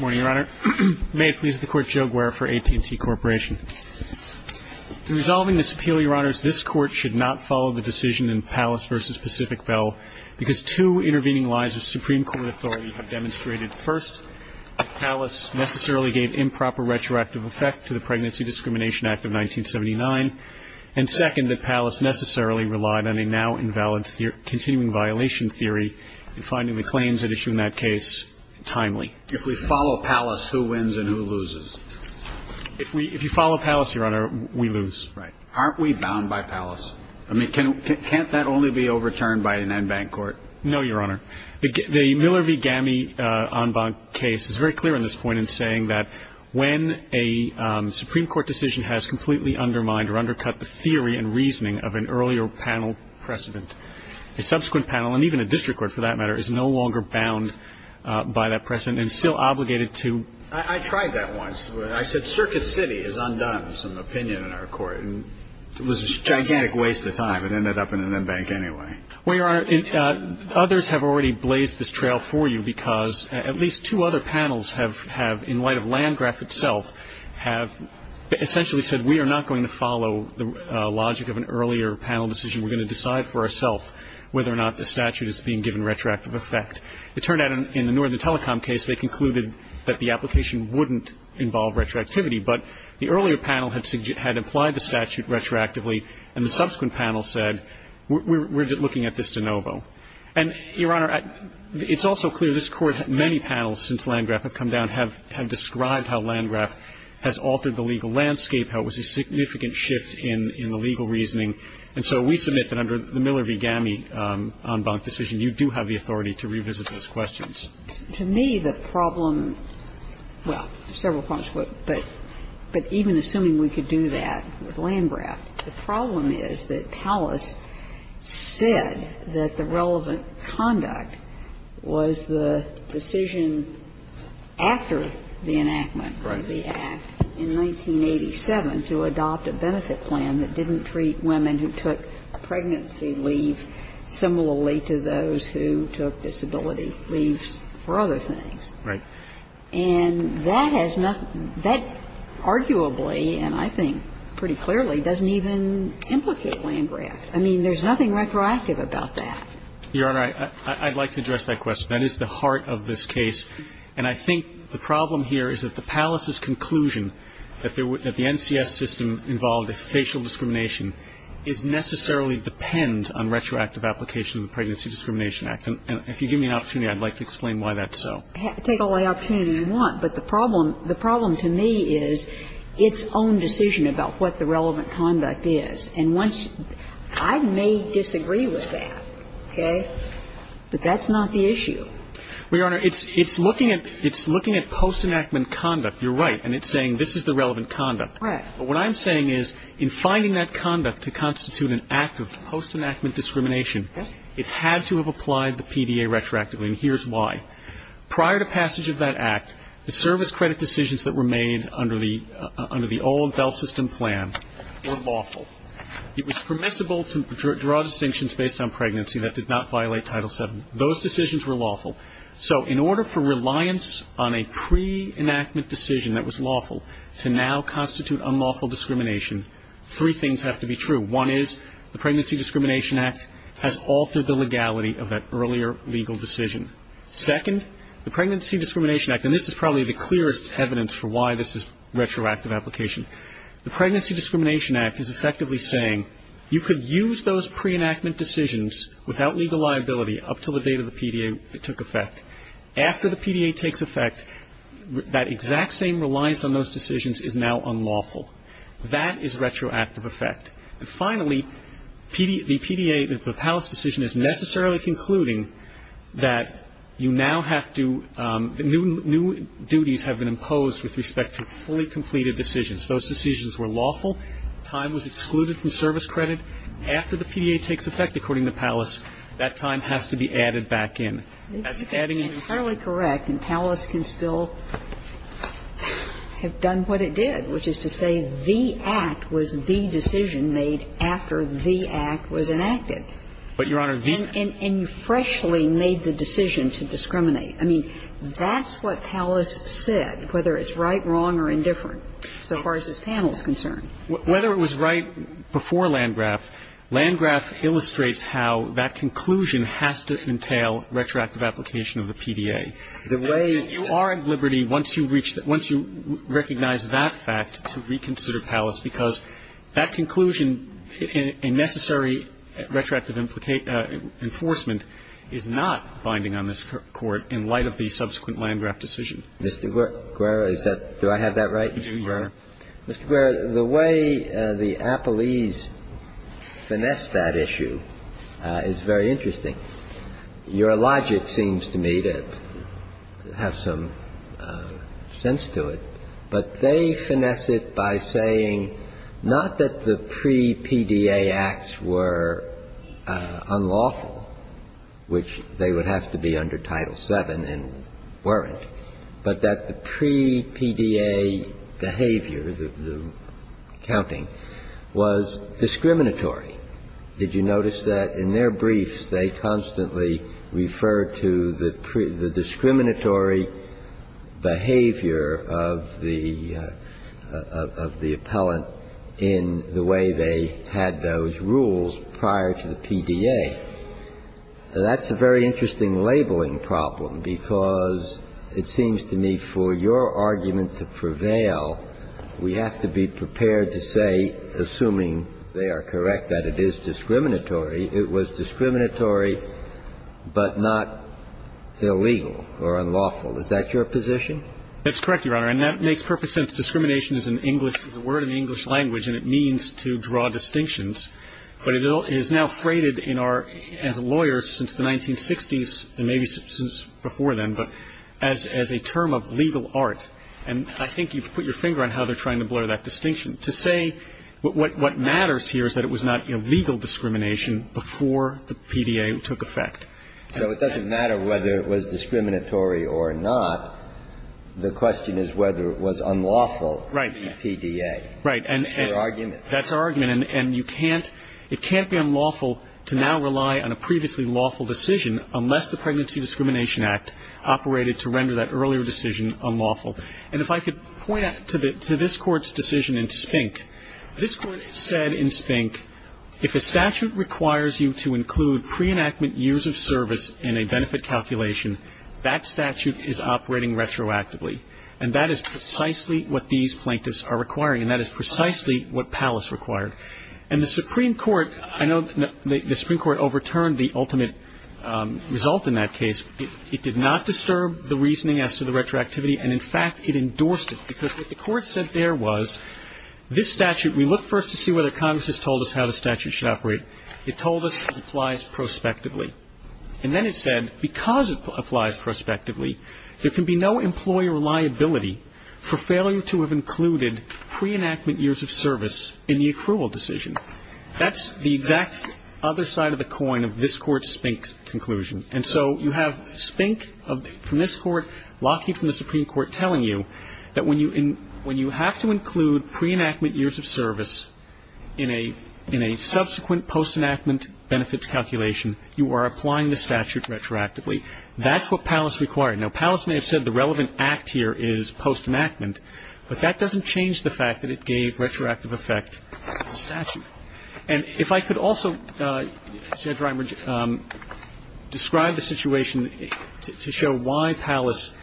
May it please the Court, Joe Guerra for AT&T Corporation. In resolving this appeal, Your Honors, this Court should not follow the decision in Pallas v. Pacific Bell because two intervening lies of Supreme Court authority have demonstrated, first, that Pallas necessarily gave improper retroactive effect to the Pregnancy Discrimination Act of 1979, and second, that Pallas necessarily relied on a now-invalid continuing violation theory in finding the claims that issue in that case timely. If we follow Pallas, who wins and who loses? If you follow Pallas, Your Honor, we lose. Aren't we bound by Pallas? I mean, can't that only be overturned by an en banc court? No, Your Honor. The Miller v. Gamme en banc case is very clear on this point in saying that when a Supreme Court decision has completely undermined or undercut the theory and reasoning of an earlier panel precedent, a subsequent panel, and even a district court for that matter, is no longer bound by that precedent and still obligated to… I tried that once. I said Circuit City has undone some opinion in our court, and it was a gigantic waste of time. It ended up in an en banc anyway. Well, Your Honor, others have already blazed this trail for you because at least two other panels have, in light of Landgraf itself, have essentially said we are not going to follow the logic of an earlier panel decision. We're going to decide for ourself whether or not the statute is being given retroactive effect. It turned out in the Northern Telecom case they concluded that the application wouldn't involve retroactivity, but the earlier panel had implied the statute retroactively, and the subsequent panel said we're looking at this de novo. And, Your Honor, it's also clear this Court, many panels since Landgraf have come down, have described how Landgraf has altered the legal landscape, how it was a significant shift in the legal reasoning. And so we submit that under the Miller v. Gamme en banc decision, you do have the authority to revisit those questions. To me, the problem, well, several points, but even assuming we could do that with Landgraf, the problem is that Powell has said that the relevant conduct was the decision after the enactment of the act in 1987 to adopt a benefit plan that didn't treat women who took pregnancy leave similarly to those who took disability leave similarly for other things. Right. And that has nothing, that arguably, and I think pretty clearly, doesn't even implicate Landgraf. I mean, there's nothing retroactive about that. Your Honor, I'd like to address that question. That is the heart of this case. And I think the problem here is that the palace's conclusion that the NCS system involved a facial discrimination is necessarily depend on retroactive application of the Pregnancy Discrimination Act. And if you give me an opportunity, I'd like to explain why that's so. Take all the opportunity you want, but the problem to me is its own decision about what the relevant conduct is. And once you – I may disagree with that, okay, but that's not the issue. Well, Your Honor, it's looking at post-enactment conduct. You're right. And it's saying this is the relevant conduct. Right. But what I'm saying is in finding that conduct to constitute an act of post-enactment discrimination, it had to have applied the PDA retroactively, and here's why. Prior to passage of that act, the service credit decisions that were made under the old Bell system plan were lawful. It was permissible to draw distinctions based on pregnancy that did not violate Title VII. Those decisions were lawful. So in order for reliance on a pre-enactment decision that was lawful to now constitute unlawful discrimination, three things have to be true. One is the Pregnancy Discrimination Act has altered the legality of that earlier legal decision. Second, the Pregnancy Discrimination Act – and this is probably the clearest evidence for why this is a retroactive application – the Pregnancy Discrimination Act is effectively saying you could use those pre-enactment decisions without legal liability up until the date of the PDA took effect. After the PDA takes effect, that exact same reliance on those decisions is now unlawful. That is retroactive effect. And finally, the PDA, the Palace decision is necessarily concluding that you now have to – new duties have been imposed with respect to fully completed decisions. Those decisions were lawful. Time was excluded from service credit. After the PDA takes effect, according to Palace, that time has to be added back in. That's adding in. That's entirely correct, and Palace can still have done what it did, which is to say that the act was the decision made after the act was enacted. But, Your Honor, the – And you freshly made the decision to discriminate. I mean, that's what Palace said, whether it's right, wrong, or indifferent, so far as this panel is concerned. Whether it was right before Landgraf, Landgraf illustrates how that conclusion has to entail retroactive application of the PDA. The way – You are at liberty, once you reach – once you recognize that fact, to reconsider Palace, because that conclusion in necessary retroactive enforcement is not binding on this Court in light of the subsequent Landgraf decision. Mr. Guerra, is that – do I have that right? You do, Your Honor. Mr. Guerra, the way the appellees finessed that issue is very interesting. Your logic seems to me to have some sense to it, but they finesse it by saying not that the pre-PDA acts were unlawful, which they would have to be under Title VII and weren't, but that the pre-PDA behavior, the counting, was discriminatory. Did you notice that? In their briefs, they constantly refer to the discriminatory behavior of the appellant in the way they had those rules prior to the PDA. That's a very interesting labeling problem, because it seems to me for your argument to prevail, we have to be prepared to say, assuming they are correct that it is discriminatory, it was discriminatory but not illegal or unlawful. Is that your position? That's correct, Your Honor. And that makes perfect sense. Discrimination is an English – is a word in the English language, and it means to draw distinctions, but it is now freighted in our – as lawyers since the 1960s and maybe since before then, but as a term of legal art. And I think you've put your finger on how they're trying to blur that distinction. To say what matters here is that it was not illegal discrimination before the PDA took effect. So it doesn't matter whether it was discriminatory or not. The question is whether it was unlawful to be PDA. Right. That's your argument. That's our argument. And you can't – it can't be unlawful to now rely on a previously lawful decision unless the Pregnancy Discrimination Act operated to render that earlier decision unlawful. And if I could point to the – to this Court's decision in Spink, this Court said in Spink if a statute requires you to include pre-enactment years of service in a benefit calculation, that statute is operating retroactively. And that is precisely what these plaintiffs are requiring, and that is precisely what Pallas required. And the Supreme Court – I know the Supreme Court overturned the ultimate result in that case. It did not disturb the reasoning as to the retroactivity, and, in fact, it endorsed it. Because what the Court said there was this statute – we look first to see whether Congress has told us how the statute should operate. It told us it applies prospectively. And then it said because it applies prospectively, there can be no employer liability for failure to have included pre-enactment years of service in the accrual decision. That's the exact other side of the coin of this Court's Spink conclusion. And so you have Spink from this Court, Lockheed from the Supreme Court telling you that when you – when you have to include pre-enactment years of service in a – in a subsequent post-enactment benefits calculation, you are applying the statute retroactively. That's what Pallas required. Now, Pallas may have said the relevant act here is post-enactment, but that doesn't change the fact that it gave retroactive effect to the statute. And if I could also, Judge Reimer, describe the situation to show why Pallas –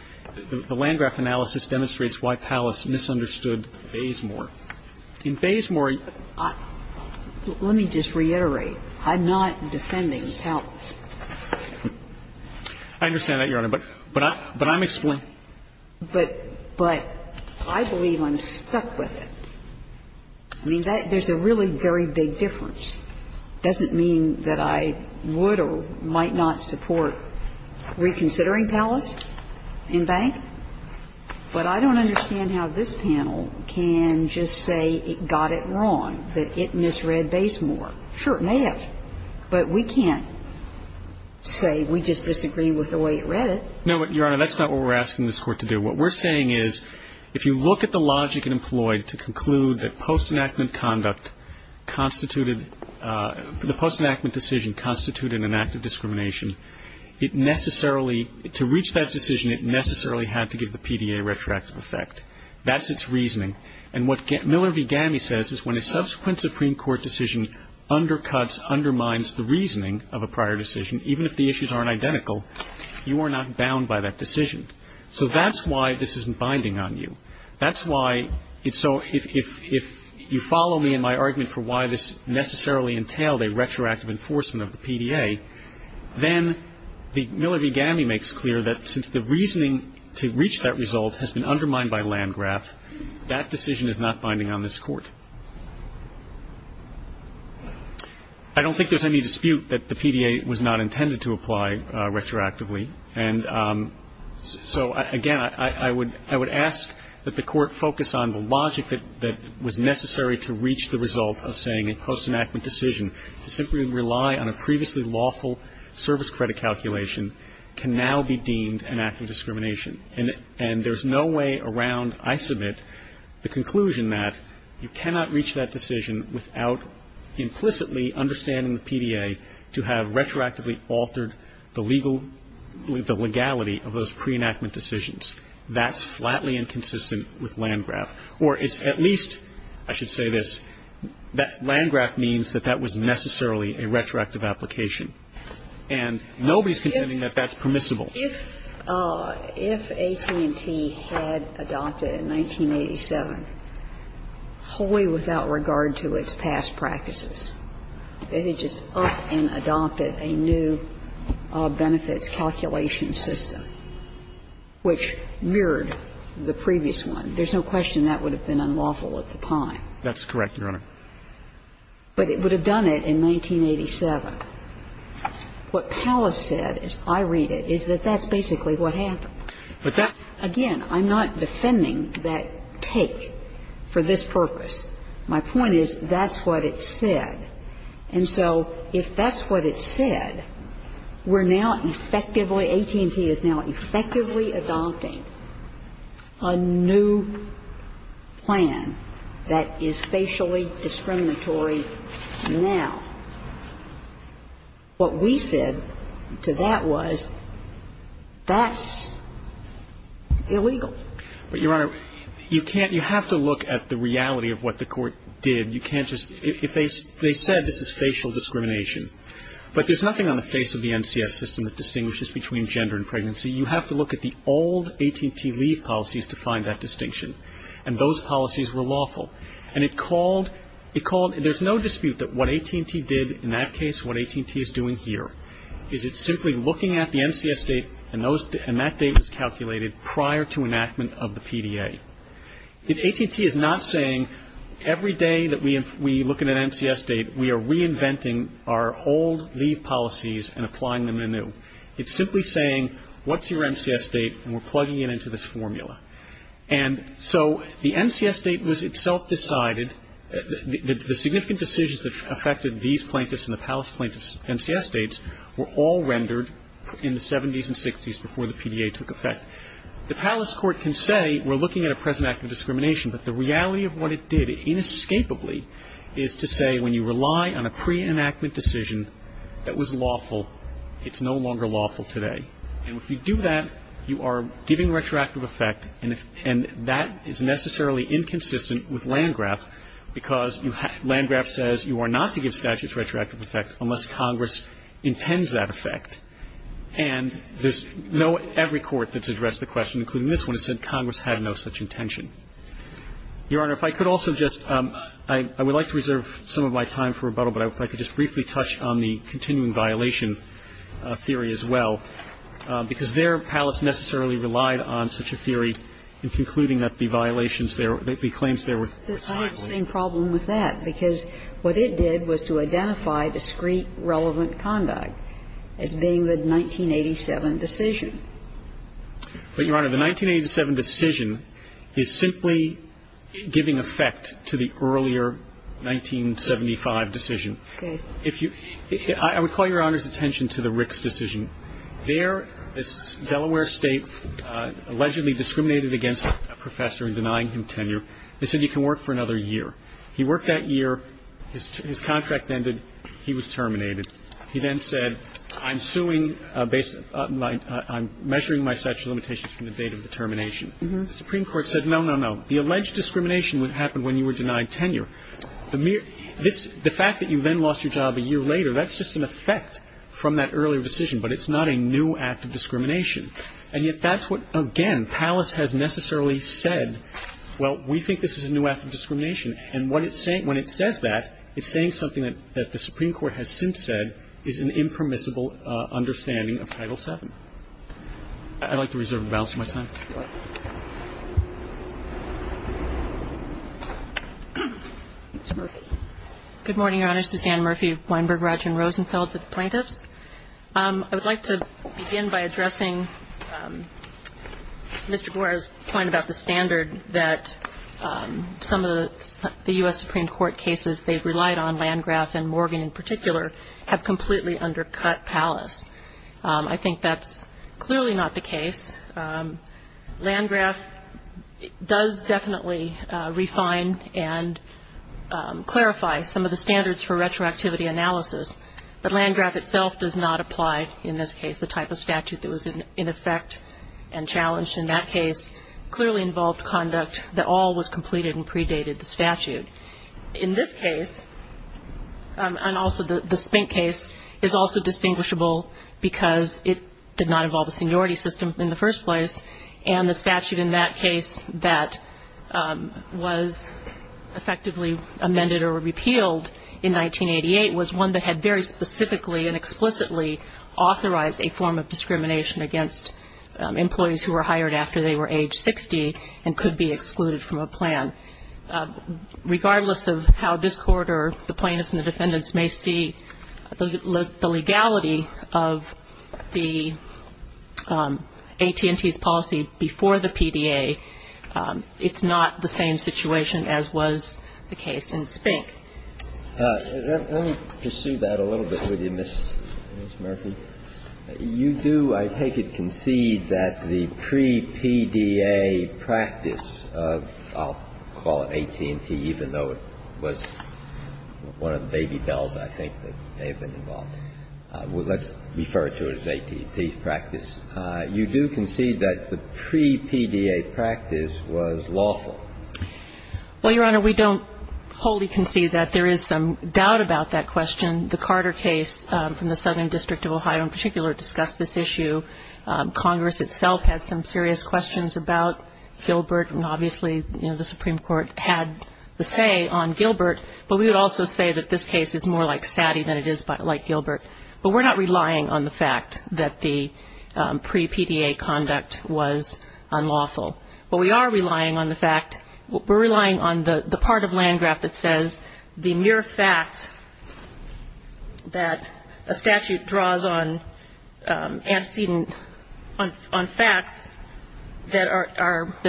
the land-grant analysis demonstrates why Pallas misunderstood Bazemore. In Bazemore – Let me just reiterate. I'm not defending Pallas. I understand that, Your Honor, but I'm – but I'm – But – but I believe I'm stuck with it. I mean, that – there's a really very big difference. It doesn't mean that I would or might not support reconsidering Pallas in Bank, but I don't understand how this panel can just say it got it wrong, that it misread Bazemore. Sure, it may have. But we can't say we just disagree with the way it read it. No, but, Your Honor, that's not what we're asking this Court to do. What we're saying is if you look at the logic employed to conclude that post-enactment conduct constituted – the post-enactment decision constituted an act of discrimination, it necessarily – to reach that decision, it necessarily had to give the PDA retroactive effect. That's its reasoning. And what Miller v. Gamme says is when a subsequent Supreme Court decision undercuts, undermines the reasoning of a prior decision, even if the issues aren't identical, you are not bound by that decision. So that's why this isn't binding on you. That's why – so if you follow me in my argument for why this necessarily entailed a retroactive enforcement of the PDA, then Miller v. Gamme makes clear that since the decision is not binding on this Court. I don't think there's any dispute that the PDA was not intended to apply retroactively. And so, again, I would – I would ask that the Court focus on the logic that was necessary to reach the result of saying a post-enactment decision to simply rely on a previously lawful service credit calculation can now be deemed an act of discrimination. And there's no way around, I submit, the conclusion that you cannot reach that decision without implicitly understanding the PDA to have retroactively altered the legal – the legality of those pre-enactment decisions. That's flatly inconsistent with Landgraf. Or it's at least, I should say this, that Landgraf means that that was necessarily a retroactive application. And nobody's contending that that's permissible. If AT&T had adopted in 1987 wholly without regard to its past practices, it had just upped and adopted a new benefits calculation system which mirrored the previous one, there's no question that would have been unlawful at the time. That's correct, Your Honor. But it would have done it in 1987. But what Pallas said, as I read it, is that that's basically what happened. Again, I'm not defending that take for this purpose. My point is that's what it said. And so if that's what it said, we're now effectively – AT&T is now effectively adopting a new plan that is facially discriminatory now. What we said to that was that's illegal. But, Your Honor, you can't – you have to look at the reality of what the Court did. You can't just – if they said this is facial discrimination. But there's nothing on the face of the NCS system that distinguishes between gender and pregnancy. So you have to look at the old AT&T leave policies to find that distinction. And those policies were lawful. And it called – there's no dispute that what AT&T did in that case, what AT&T is doing here, is it's simply looking at the NCS date, and that date was calculated prior to enactment of the PDA. AT&T is not saying every day that we look at an NCS date, we are reinventing our old leave policies and applying them anew. It's simply saying what's your NCS date, and we're plugging it into this formula. And so the NCS date was itself decided – the significant decisions that affected these plaintiffs and the palace plaintiffs' NCS dates were all rendered in the 70s and 60s before the PDA took effect. The palace court can say we're looking at a present act of discrimination, but the reality of what it did inescapably is to say when you rely on a pre-enactment decision that was lawful, it's no longer lawful today. And if you do that, you are giving retroactive effect, and that is necessarily inconsistent with Landgraf, because Landgraf says you are not to give statutes retroactive effect unless Congress intends that effect. And there's no – every court that's addressed the question, including this one, has said Congress had no such intention. Your Honor, if I could also just – I would like to reserve some of my time for a moment to touch on the continuing violation theory as well, because their palace necessarily relied on such a theory in concluding that the violations there – the claims there were – But I had the same problem with that, because what it did was to identify discrete, relevant conduct as being the 1987 decision. But, Your Honor, the 1987 decision is simply giving effect to the earlier 1975 decision. If you – I would call Your Honor's attention to the Ricks decision. There, this Delaware State allegedly discriminated against a professor in denying him tenure. They said you can work for another year. He worked that year. His contract ended. He was terminated. He then said, I'm suing based – I'm measuring my statute of limitations from the date of the termination. The Supreme Court said, no, no, no. The alleged discrimination happened when you were denied tenure. The mere – this – the fact that you then lost your job a year later, that's just an effect from that earlier decision, but it's not a new act of discrimination. And yet that's what, again, palace has necessarily said, well, we think this is a new act of discrimination. And what it's saying – when it says that, it's saying something that the Supreme Court has since said is an impermissible understanding of Title VII. I'd like to reserve the balance of my time. MS. MURPHY. Good morning, Your Honor. Suzanne Murphy of Weinberg, Rogers & Rosenfeld with the plaintiffs. I would like to begin by addressing Mr. Gore's point about the standard that some of the U.S. Supreme Court cases they've relied on, Landgraf and Morgan in particular, have completely undercut palace. I think that's clearly not the case. Landgraf does definitely refine and clarify some of the standards for retroactivity analysis, but Landgraf itself does not apply in this case. The type of statute that was in effect and challenged in that case clearly involved conduct that all was completed and predated the statute. In this case, and also the Spink case, is also distinguishable because it did not involve the seniority system in the first place, and the statute in that case that was effectively amended or repealed in 1988 was one that had very specifically and explicitly authorized a form of discrimination against employees who were hired after they were age 60 and could be excluded from a plan. Regardless of how this Court or the plaintiffs and the defendants may see the legality of the AT&T's policy before the PDA, it's not the same situation as was the case in Spink. Let me pursue that a little bit with you, Ms. Murphy. You do, I take it, concede that the pre-PDA practice of, I'll call it AT&T even though it was one of the baby bells, I think, that they've been involved in. Let's refer to it as AT&T's practice. You do concede that the pre-PDA practice was lawful. Well, Your Honor, we don't wholly concede that. There is some doubt about that question. The Carter case from the Southern District of Ohio in particular discussed this issue. Congress itself had some serious questions about Gilbert, and obviously, you know, the Supreme Court had the say on Gilbert, but we would also say that this case is more like Satie than it is like Gilbert. But we're not relying on the fact that the pre-PDA conduct was unlawful. But we are relying on the fact, we're relying on the part of Landgraf that says the mere fact that a statute draws on antecedent, on facts that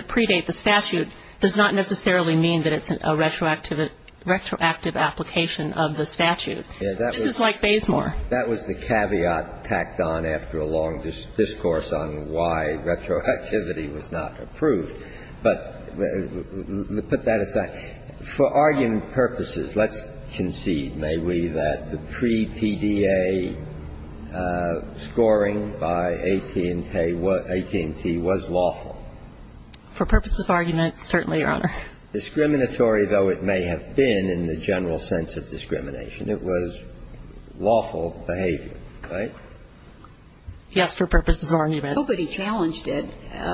predate the statute does not necessarily mean that it's a retroactive application of the statute. This is like Bazemore. That was the caveat tacked on after a long discourse on why retroactivity was not approved. But put that aside. For argument purposes, let's concede, may we, that the pre-PDA scoring by AT&T was lawful. For purposes of argument, certainly, Your Honor. Discriminatory, though it may have been in the general sense of discrimination, it was lawful behavior, right? Yes. For purposes of argument. Nobody challenged it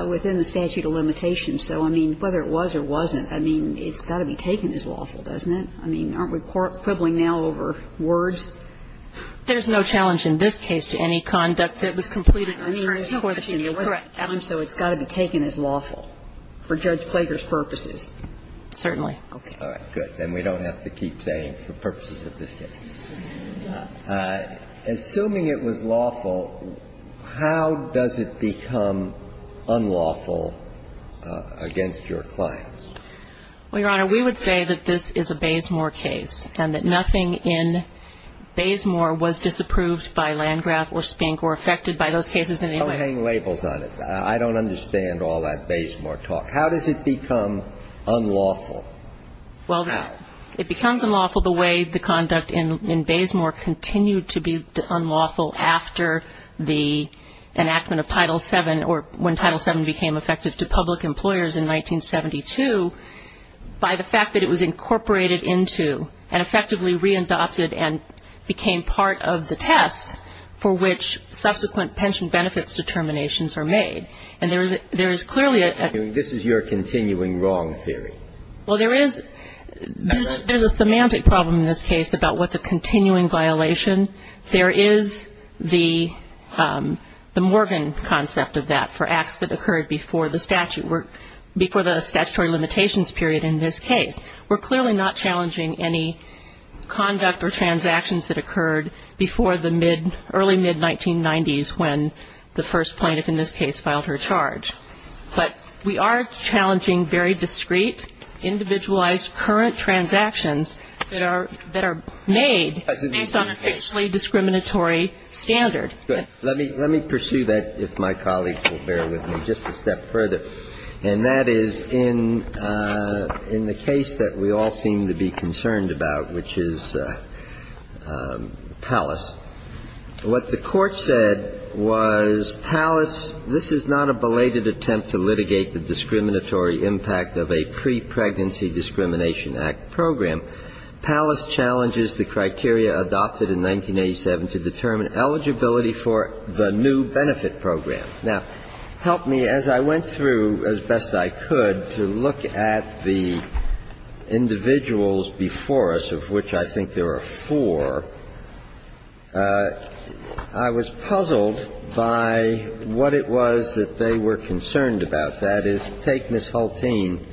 within the statute of limitations. So, I mean, whether it was or wasn't, I mean, it's got to be taken as lawful, doesn't it? I mean, aren't we quibbling now over words? There's no challenge in this case to any conduct that was completed. So it's got to be taken as lawful for Judge Klager's purposes. Certainly. Okay. All right. Good. Then we don't have to keep saying, for purposes of this case. Assuming it was lawful, how does it become unlawful against your clients? Well, Your Honor, we would say that this is a Bazemore case and that nothing in Bazemore was disapproved by Landgraf or Spink or affected by those cases in any way. Don't hang labels on it. I don't understand all that Bazemore talk. How does it become unlawful? Well, it becomes unlawful the way the conduct in Bazemore continued to be unlawful after the enactment of Title VII or when Title VII became effective to public employers in 1972 by the fact that it was incorporated into and effectively re-adopted and became part of the test for which subsequent pension benefits determinations are made. And there is clearly a ---- This is your continuing wrong theory. Well, there is a semantic problem in this case about what's a continuing violation. There is the Morgan concept of that for acts that occurred before the statute, before the statutory limitations period in this case. We're clearly not challenging any conduct or transactions that occurred before the early mid-1990s when the first plaintiff in this case filed her charge. But we are challenging very discrete, individualized, current transactions that are made based on a fixed potentially discriminatory standard. Good. Let me pursue that if my colleagues will bear with me just a step further. And that is in the case that we all seem to be concerned about, which is Pallas. What the Court said was Pallas ---- this is not a belated attempt to litigate the discriminatory impact of a pre-pregnancy discrimination act program. Pallas challenges the criteria adopted in 1987 to determine eligibility for the new benefit program. Now, help me as I went through, as best I could, to look at the individuals before us, of which I think there are four. I was puzzled by what it was that they were concerned about. And what I would suggest that is take Ms. Hultine.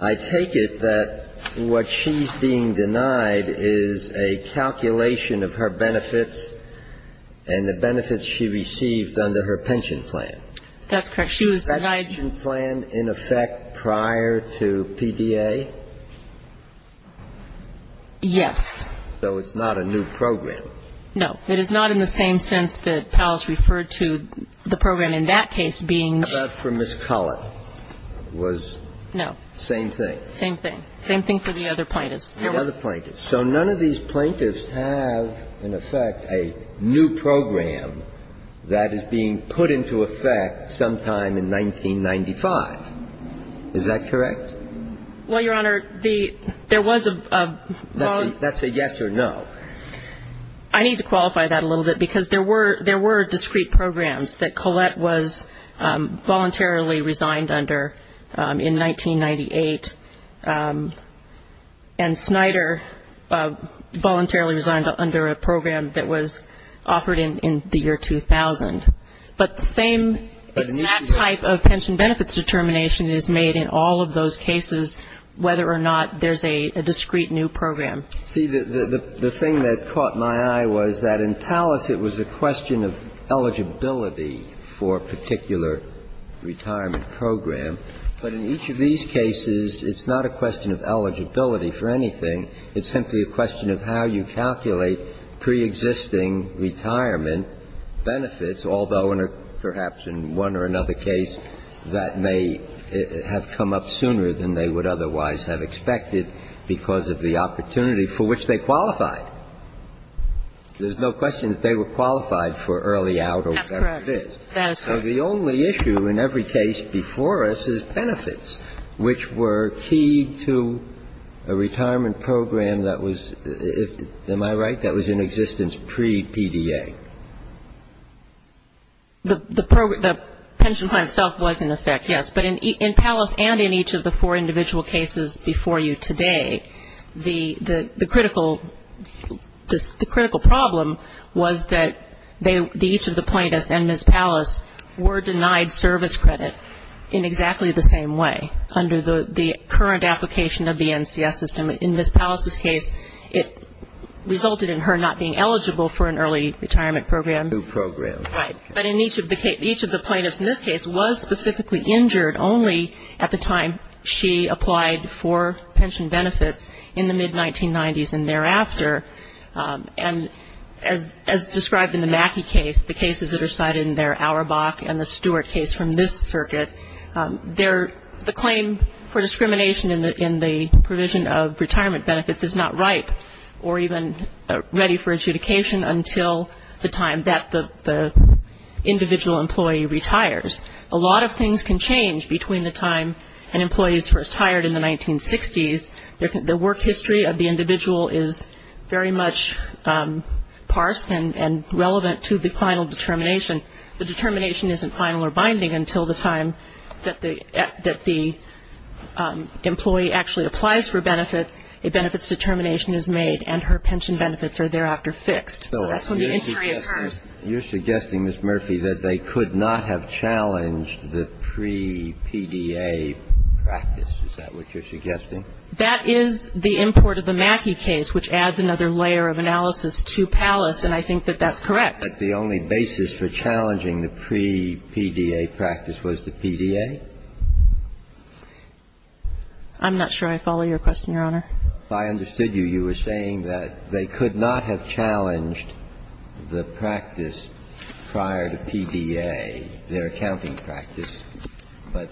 I take it that what she's being denied is a calculation of her benefits and the benefits she received under her pension plan. That's correct. She was denied ---- Is that pension plan in effect prior to PDA? Yes. So it's not a new program. No. It is not in the same sense that Pallas referred to the program in that case being ---- But for Ms. Cullen was ---- No. Same thing. Same thing. Same thing for the other plaintiffs. The other plaintiffs. So none of these plaintiffs have in effect a new program that is being put into effect sometime in 1995. Is that correct? Well, Your Honor, the ---- there was a ---- That's a yes or no. I need to qualify that a little bit because there were discrete programs that Collette was voluntarily resigned under in 1998, and Snyder voluntarily resigned under a program that was offered in the year 2000. But the same exact type of pension benefits determination is made in all of those cases whether or not there's a discrete new program. See, the thing that caught my eye was that in Pallas it was a question of eligibility for a particular retirement program. But in each of these cases, it's not a question of eligibility for anything. It's simply a question of how you calculate preexisting retirement benefits, although in a ---- perhaps in one or another case that may have come up sooner than they would otherwise have expected because of the opportunity for which they qualified. There's no question that they were qualified for early out or whatever it is. That's correct. So the only issue in every case before us is benefits, which were key to a retirement program that was ---- am I right? That was in existence pre-PDA. The pension plan itself was in effect, yes. But in Pallas and in each of the four individual cases before you today, the critical problem was that each of the plaintiffs and Ms. Pallas were denied service credit in exactly the same way under the current application of the NCS system. In Ms. Pallas' case, it resulted in her not being eligible for an early retirement program. New program. Right. But in each of the plaintiffs in this case was specifically injured only at the time she applied for pension benefits in the mid-1990s and thereafter. And as described in the Mackey case, the cases that are cited in there, Auerbach and the Stewart case from this circuit, the claim for discrimination in the provision of retirement benefits is not ripe or even ready for adjudication until the time that the individual employee retires. A lot of things can change between the time an employee is first hired in the 1960s. The work history of the individual is very much parsed and relevant to the final determination. The determination isn't final or binding until the time that the employee actually applies for benefits, a benefits determination is made, and her pension benefits are thereafter fixed. So that's when the injury occurs. So you're suggesting, Ms. Murphy, that they could not have challenged the pre-PDA practice. Is that what you're suggesting? That is the import of the Mackey case, which adds another layer of analysis to Pallas, and I think that that's correct. But the only basis for challenging the pre-PDA practice was the PDA? I'm not sure I follow your question, Your Honor. If I understood you, you were saying that they could not have challenged the practice prior to PDA, their accounting practice, but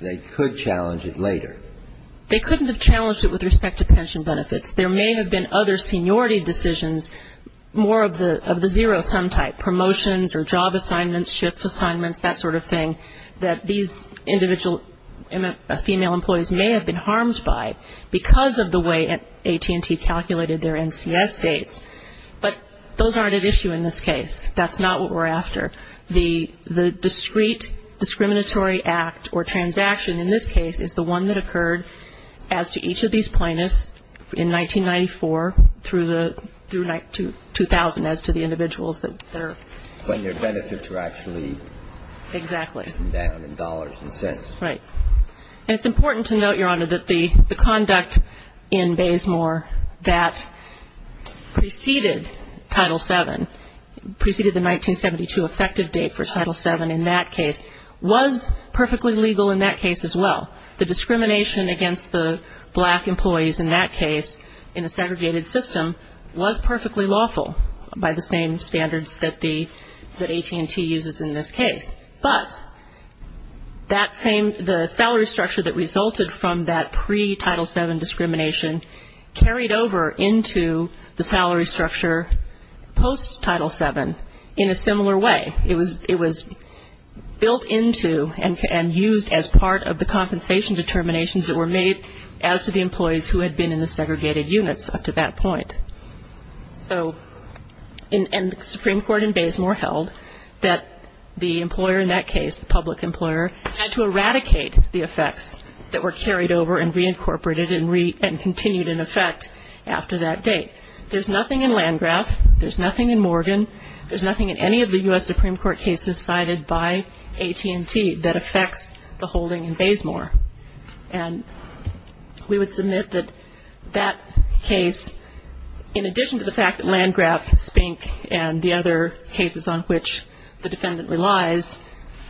they could challenge it later. They couldn't have challenged it with respect to pension benefits. There may have been other seniority decisions, more of the zero-sum type, promotions or job assignments, shift assignments, that sort of thing, that these female employees may have been harmed by because of the way AT&T calculated their NCS dates. But those aren't at issue in this case. That's not what we're after. The discrete discriminatory act or transaction in this case is the one that occurred as to each of these plaintiffs in 1994 through 2000 as to the individuals that they're harmed. When their benefits were actually taken down in dollars and cents. Right. And it's important to note, Your Honor, that the conduct in Baysmore that preceded Title VII, preceded the 1972 effective date for Title VII in that case, was perfectly legal in that case as well. The discrimination against the black employees in that case, in a segregated system, was perfectly lawful by the same standards that AT&T uses in this case. But that same, the salary structure that resulted from that pre-Title VII discrimination carried over into the salary structure post-Title VII in a similar way. It was built into and used as part of the compensation determinations that were made as to the employees who had been in the segregated units up to that point. And the Supreme Court in Baysmore held that the employer in that case, the public employer, had to eradicate the effects that were carried over and reincorporated and continued in effect after that date. There's nothing in Landgraf, there's nothing in Morgan, there's nothing in any of the U.S. Supreme Court cases cited by AT&T that affects the holding in Baysmore. And we would submit that that case, in addition to the fact that Landgraf, Spink, and the other cases on which the defendant relies,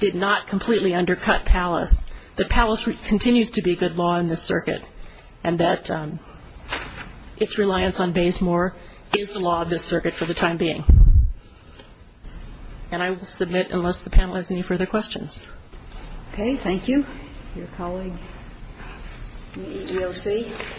did not completely undercut Palace, that Palace continues to be good law in this circuit and that its reliance on Baysmore is the law of this circuit for the time being. And I will submit unless the panel has any further questions. Okay. Thank you. Your colleague, the EEOC.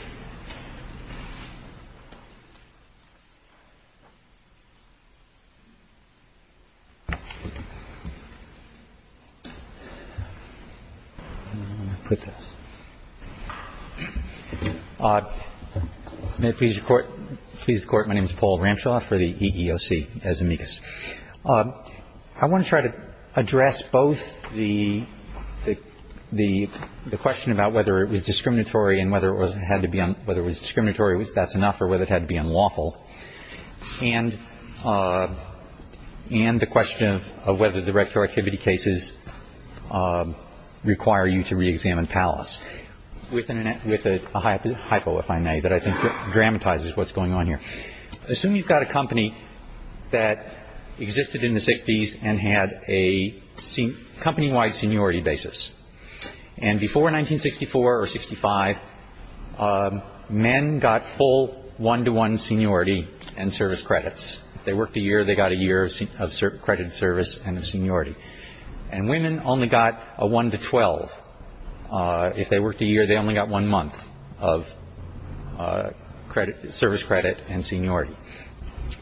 May it please the Court, my name is Paul Ramshaw for the EEOC as amicus. I want to try to address both the question about whether it was discriminatory and whether it had to be unlawful and the question of whether the retroactivity cases require you to reexamine Palace, with a hypo, if I may, that I think dramatizes what's going on here. Assume you've got a company that existed in the 60s and had a company-wide seniority basis. And before 1964 or 65, men got full one-to-one seniority and service credits. If they worked a year, they got a year of credit service and of seniority. And women only got a one-to-12. If they worked a year, they only got one month of service credit and seniority.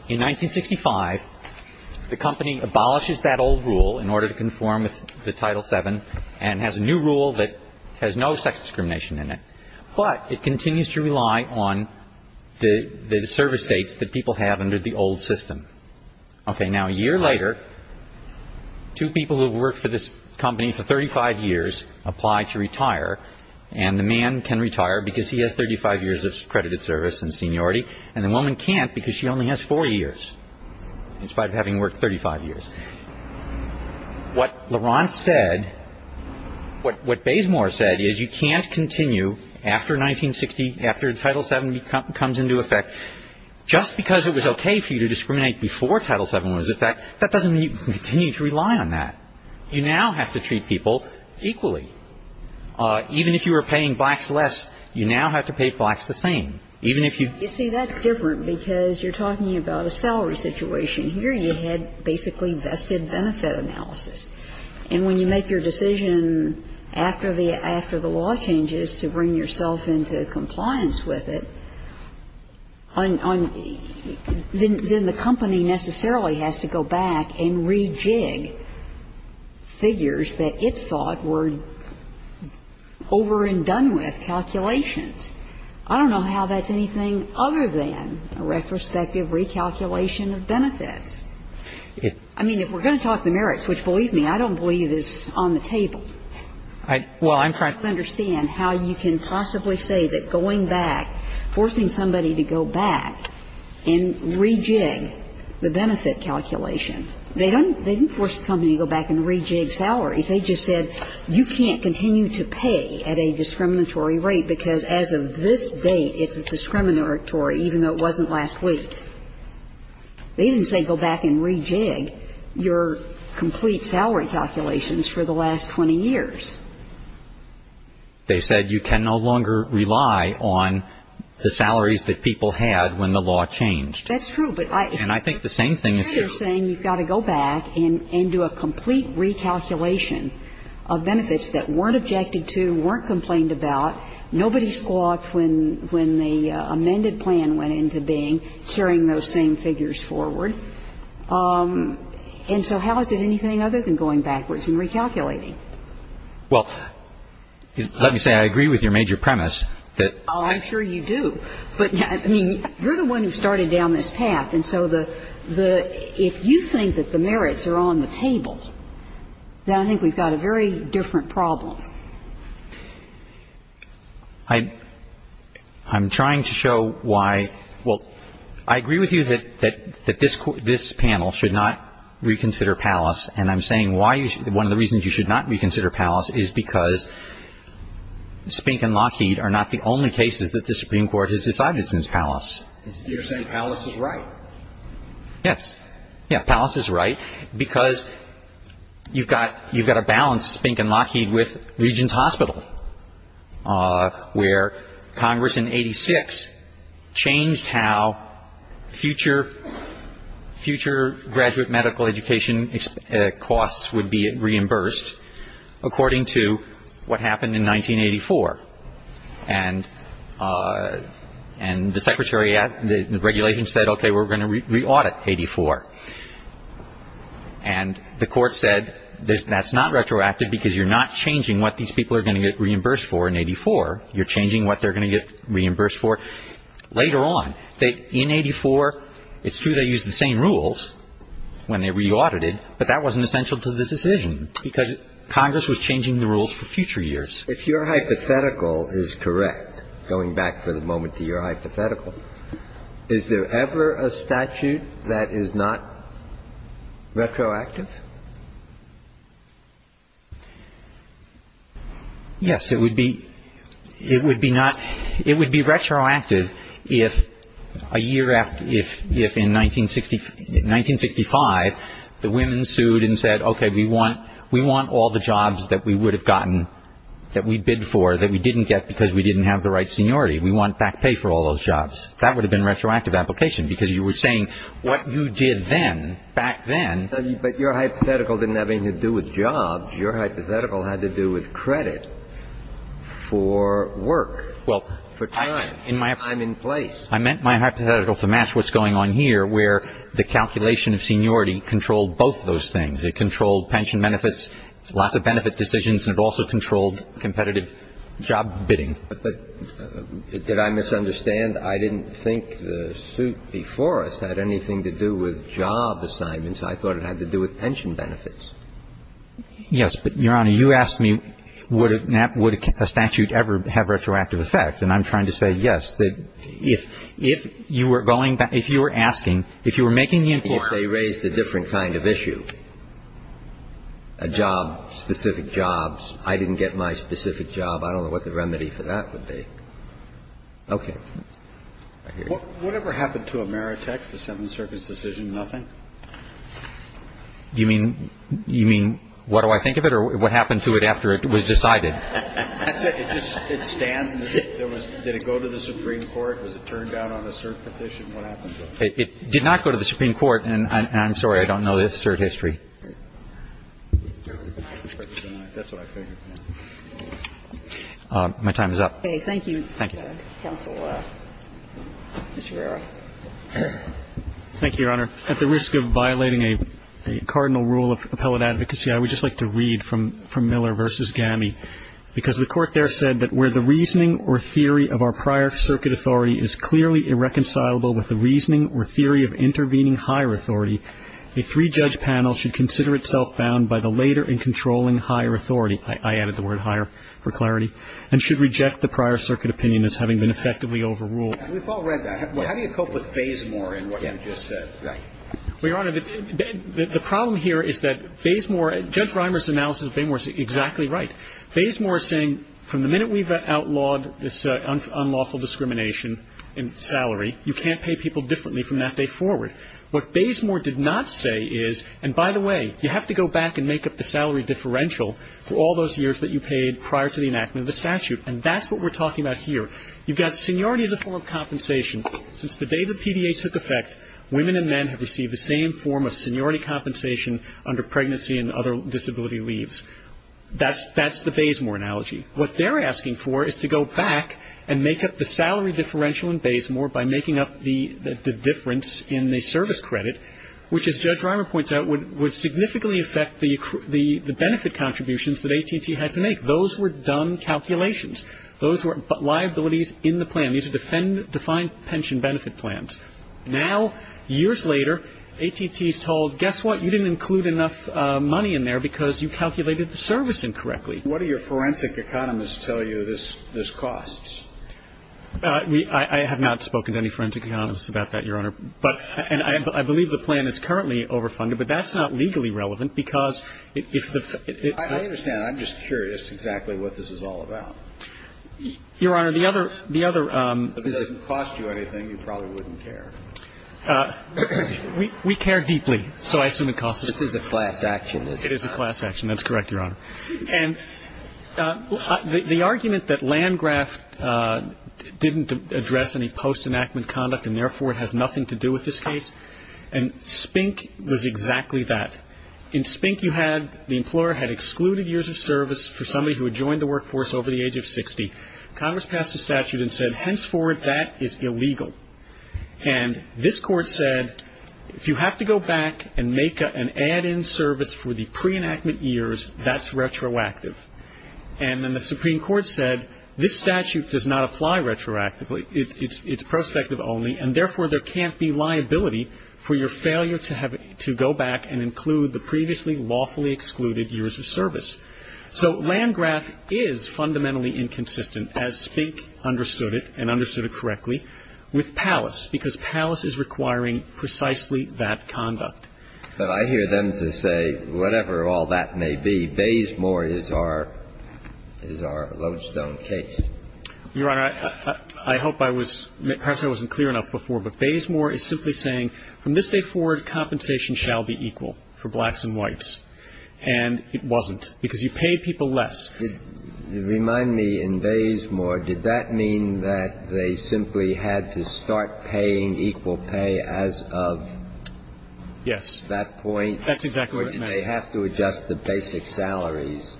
In 1965, the company abolishes that old rule in order to conform with the Title VII and has a new rule that has no sex discrimination in it. But it continues to rely on the service dates that people have under the old system. Okay. Now, a year later, two people who have worked for this company for 35 years apply to retire, and the man can retire because he has 35 years of credited service and seniority, and the woman can't because she only has four years, in spite of having worked 35 years. What LeRont said, what Bazemore said is you can't continue after 1960, after Title VII comes into effect, just because it was okay for you to discriminate before Title VII was in effect, that doesn't mean you continue to rely on that. You now have to treat people equally. Even if you were paying blacks less, you now have to pay blacks the same. Even if you ---- You see, that's different because you're talking about a salary situation. Here you had basically vested benefit analysis. And when you make your decision after the law changes to bring yourself into compliance with it, then the company necessarily has to go back and rejig figures that it thought were over and done with calculations. I don't know how that's anything other than a retrospective recalculation of benefits. I mean, if we're going to talk the merits, which, believe me, I don't believe is on the table, I don't understand how you can possibly say that going back, forcing somebody to go back and rejig the benefit calculation. They didn't force the company to go back and rejig salaries. They just said you can't continue to pay at a discriminatory rate because as of this date, it's discriminatory, even though it wasn't last week. They didn't say go back and rejig your complete salary calculations for the last 20 years. They said you can no longer rely on the salaries that people had when the law changed. That's true, but I ---- And I think the same thing is true. They're saying you've got to go back and do a complete recalculation of benefits that weren't objected to, weren't complained about. Nobody squawked when the amended plan went into being, carrying those same figures forward. And so how is it anything other than going backwards and recalculating? Well, let me say I agree with your major premise that ---- Oh, I'm sure you do. But, I mean, you're the one who started down this path. And so the ---- if you think that the merits are on the table, then I think we've got a very different problem. I'm trying to show why ---- well, I agree with you that this panel should not reconsider Pallas, and I'm saying why you should ---- one of the reasons you should not reconsider Pallas is because Spink and Lockheed are not the only cases that the Supreme Court has decided since Pallas. You're saying Pallas is right? Yes. Yeah, Pallas is right because you've got a balance, Spink and Lockheed, with Regents Hospital. Where Congress in 86 changed how future graduate medical education costs would be reimbursed, according to what happened in 1984. And the secretary at the regulation said, okay, we're going to re-audit 84. And the court said that's not retroactive because you're not changing what these people are going to get reimbursed for in 84. You're changing what they're going to get reimbursed for later on. In 84, it's true they used the same rules when they re-audited, but that wasn't essential to the decision because Congress was changing the rules for future years. If your hypothetical is correct, going back for the moment to your hypothetical, is there ever a statute that is not retroactive? Yes, it would be. It would be not. It would be retroactive if a year after, if in 1965, the women sued and said, okay, we want all the jobs that we would have gotten, that we bid for, that we didn't get because we didn't have the right seniority. We want back pay for all those jobs. That would have been a retroactive application because you were saying what you did then, back then. But your hypothetical didn't have anything to do with jobs. Your hypothetical had to do with credit for work, for time, time in place. I meant my hypothetical to match what's going on here where the calculation of seniority controlled both those things. It controlled pension benefits, lots of benefit decisions, and it also controlled competitive job bidding. But did I misunderstand? I didn't think the suit before us had anything to do with job assignments. I thought it had to do with pension benefits. Yes, but, Your Honor, you asked me would a statute ever have retroactive effect, and I'm trying to say yes. If you were going back, if you were asking, if you were making the inquiry. If they raised a different kind of issue, a job, specific jobs, I didn't get my specific job, I don't know what the remedy for that would be. Okay. Whatever happened to Ameritech, the Seventh Circuit's decision? Nothing. You mean, you mean, what do I think of it or what happened to it after it was decided? It stands. Did it go to the Supreme Court? Was it turned down on a cert petition? It did not go to the Supreme Court. And I'm sorry, I don't know the history. My time is up. Okay. Thank you, Counsel. Mr. Verrera. Thank you, Your Honor. At the risk of violating a cardinal rule of appellate advocacy, I would just like to read from Miller v. GAMI, because the Court there said that where the reasoning or theory of our prior circuit authority is clearly irreconcilable with the reasoning or theory of intervening higher authority, a three-judge panel should consider itself bound by the later and controlling higher authority, I added the word higher for clarity, and should reject the prior circuit opinion as having been effectively overruled. We've all read that. How do you cope with Bazemore in what GAMI just said? Well, Your Honor, the problem here is that Bazemore, Judge Reimer's analysis of Bazemore is exactly right. Bazemore is saying from the minute we've outlawed this unlawful discrimination in salary, you can't pay people differently from that day forward. What Bazemore did not say is, and by the way, you have to go back and make up the salary differential for all those years that you paid prior to the enactment of the statute. And that's what we're talking about here. You've got seniority as a form of compensation. Since the day the PDA took effect, women and men have received the same form of seniority compensation under pregnancy and other disability leaves. That's the Bazemore analogy. What they're asking for is to go back and make up the salary differential in Bazemore by making up the difference in the service credit, which as Judge Reimer points out would significantly affect the benefit contributions that AT&T had to make. Those were done calculations. Those were liabilities in the plan. These are defined pension benefit plans. Now, years later, AT&T is told, guess what, you didn't include enough money in there because you calculated the service incorrectly. What do your forensic economists tell you this costs? I have not spoken to any forensic economists about that, Your Honor. And I believe the plan is currently overfunded, but that's not legally relevant because if the ---- I understand. I'm just curious exactly what this is all about. Your Honor, the other ---- If it doesn't cost you anything, you probably wouldn't care. We care deeply, so I assume it costs us ---- This is a class action, isn't it? It is a class action. That's correct, Your Honor. And the argument that Landgraf didn't address any post-enactment conduct and, therefore, has nothing to do with this case, and Spink was exactly that. In Spink you had the employer had excluded years of service for somebody who had joined the workforce over the age of 60. Congress passed a statute and said, henceforth, that is illegal. And this court said, if you have to go back and make an add-in service for the And then the Supreme Court said, this statute does not apply retroactively, it's prospective only, and, therefore, there can't be liability for your failure to go back and include the previously lawfully excluded years of service. So Landgraf is fundamentally inconsistent, as Spink understood it and understood it correctly, with Pallas, because Pallas is requiring precisely that conduct. But I hear them to say, whatever all that may be, Baysmore is our lodestone case. Your Honor, I hope I was — perhaps I wasn't clear enough before, but Baysmore is simply saying, from this day forward compensation shall be equal for blacks and whites. And it wasn't, because you paid people less. Remind me, in Baysmore, did that mean that they simply had to start paying equal pay as of — Yes. That point? That's exactly what it meant. Or did they have to adjust the basic salaries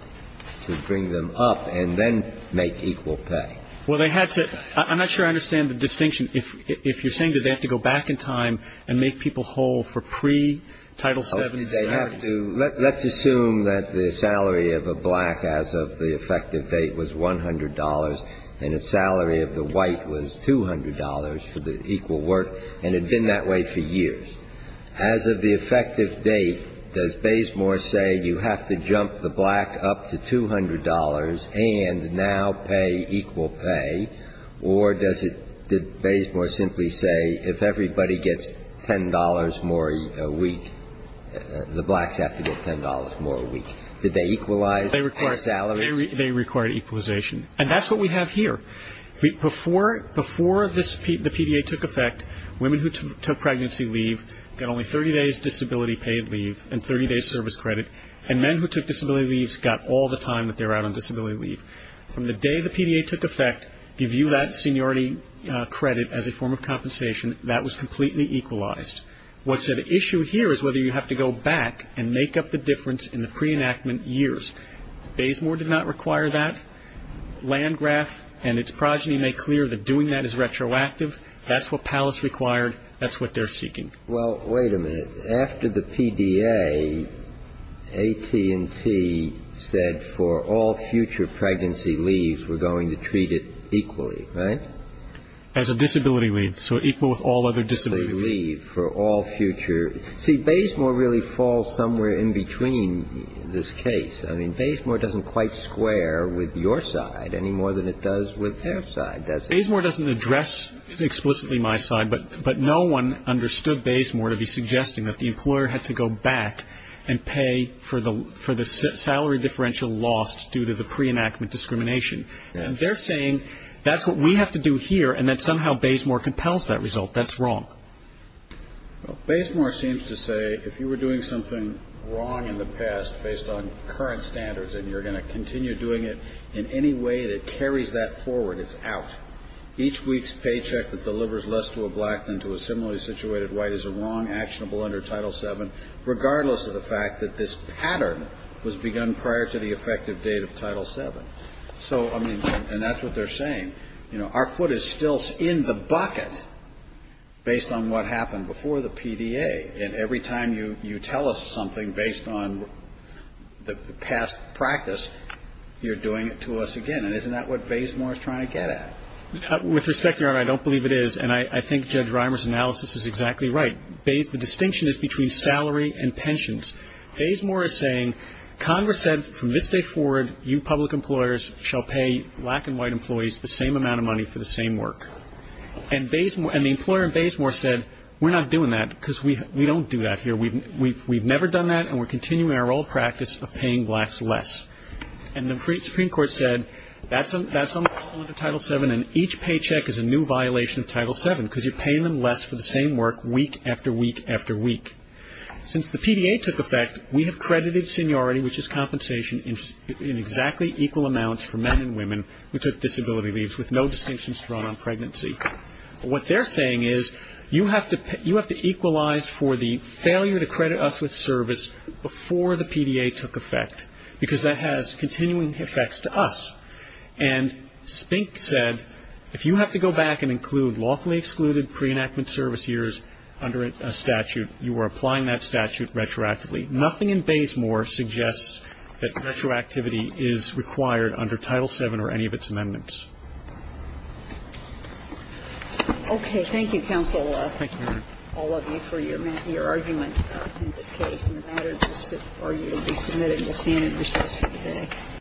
to bring them up and then make equal pay? Well, they had to — I'm not sure I understand the distinction. If you're saying, did they have to go back in time and make people whole for pre-Title VII service? Oh, did they have to — let's assume that the salary of a black as of the effective date was $100 and the salary of the white was $200 for the equal work, and it had been that way for years. As of the effective date, does Baysmore say you have to jump the black up to $200 and now pay equal pay? Or does it — did Baysmore simply say if everybody gets $10 more a week, the blacks have to get $10 more a week? Did they equalize salary? They required equalization. And that's what we have here. Before the PDA took effect, women who took pregnancy leave got only 30 days disability paid leave and 30 days service credit. And men who took disability leaves got all the time that they were out on disability leave. From the day the PDA took effect, give you that seniority credit as a form of compensation, that was completely equalized. What's at issue here is whether you have to go back and make up the difference in the pre-enactment years. Baysmore did not require that. Landgraf and its progeny make clear that doing that is retroactive. That's what Palace required. That's what they're seeking. Well, wait a minute. After the PDA, AT&T said for all future pregnancy leaves, we're going to treat it equally, right? As a disability leave. So equal with all other disabilities. See, Baysmore really falls somewhere in between this case. I mean, Baysmore doesn't quite square with your side any more than it does with their side, does it? Baysmore doesn't address explicitly my side, but no one understood Baysmore to be suggesting that the employer had to go back and pay for the salary differential lost due to the pre-enactment discrimination. They're saying that's what we have to do here and that somehow Baysmore compels that result. That's wrong. Well, Baysmore seems to say if you were doing something wrong in the past based on current standards and you're going to continue doing it in any way that carries that forward, it's out. Each week's paycheck that delivers less to a black than to a similarly situated white is a wrong actionable under Title VII, regardless of the fact that this pattern was begun prior to the effective date of Title VII. So, I mean, and that's what they're saying. You know, our foot is still in the bucket based on what happened before the PDA. And every time you tell us something based on the past practice, you're doing it to us again. And isn't that what Baysmore is trying to get at? With respect, Your Honor, I don't believe it is. And I think Judge Reimer's analysis is exactly right. The distinction is between salary and pensions. Baysmore is saying Congress said from this day forward you public employers shall pay black and whites the same amount of money for the same work. And the employer in Baysmore said we're not doing that because we don't do that here. We've never done that and we're continuing our old practice of paying blacks less. And the Supreme Court said that's under Title VII and each paycheck is a new violation of Title VII because you're paying them less for the same work week after week after week. Since the PDA took effect, we have credited seniority, which is compensation, in exactly equal amounts for men and women who took disability leaves with no distinctions thrown on pregnancy. What they're saying is you have to equalize for the failure to credit us with service before the PDA took effect because that has continuing effects to us. And Spink said if you have to go back and include lawfully excluded pre-enactment service years under a statute, you are applying that statute retroactively. Nothing in Baysmore suggests that retroactivity is required under Title VII or any of its amendments. Okay. Thank you, Counsel. Thank you, Madam. All of you for your argument in this case. And the matter will be submitted to Senate recess for today.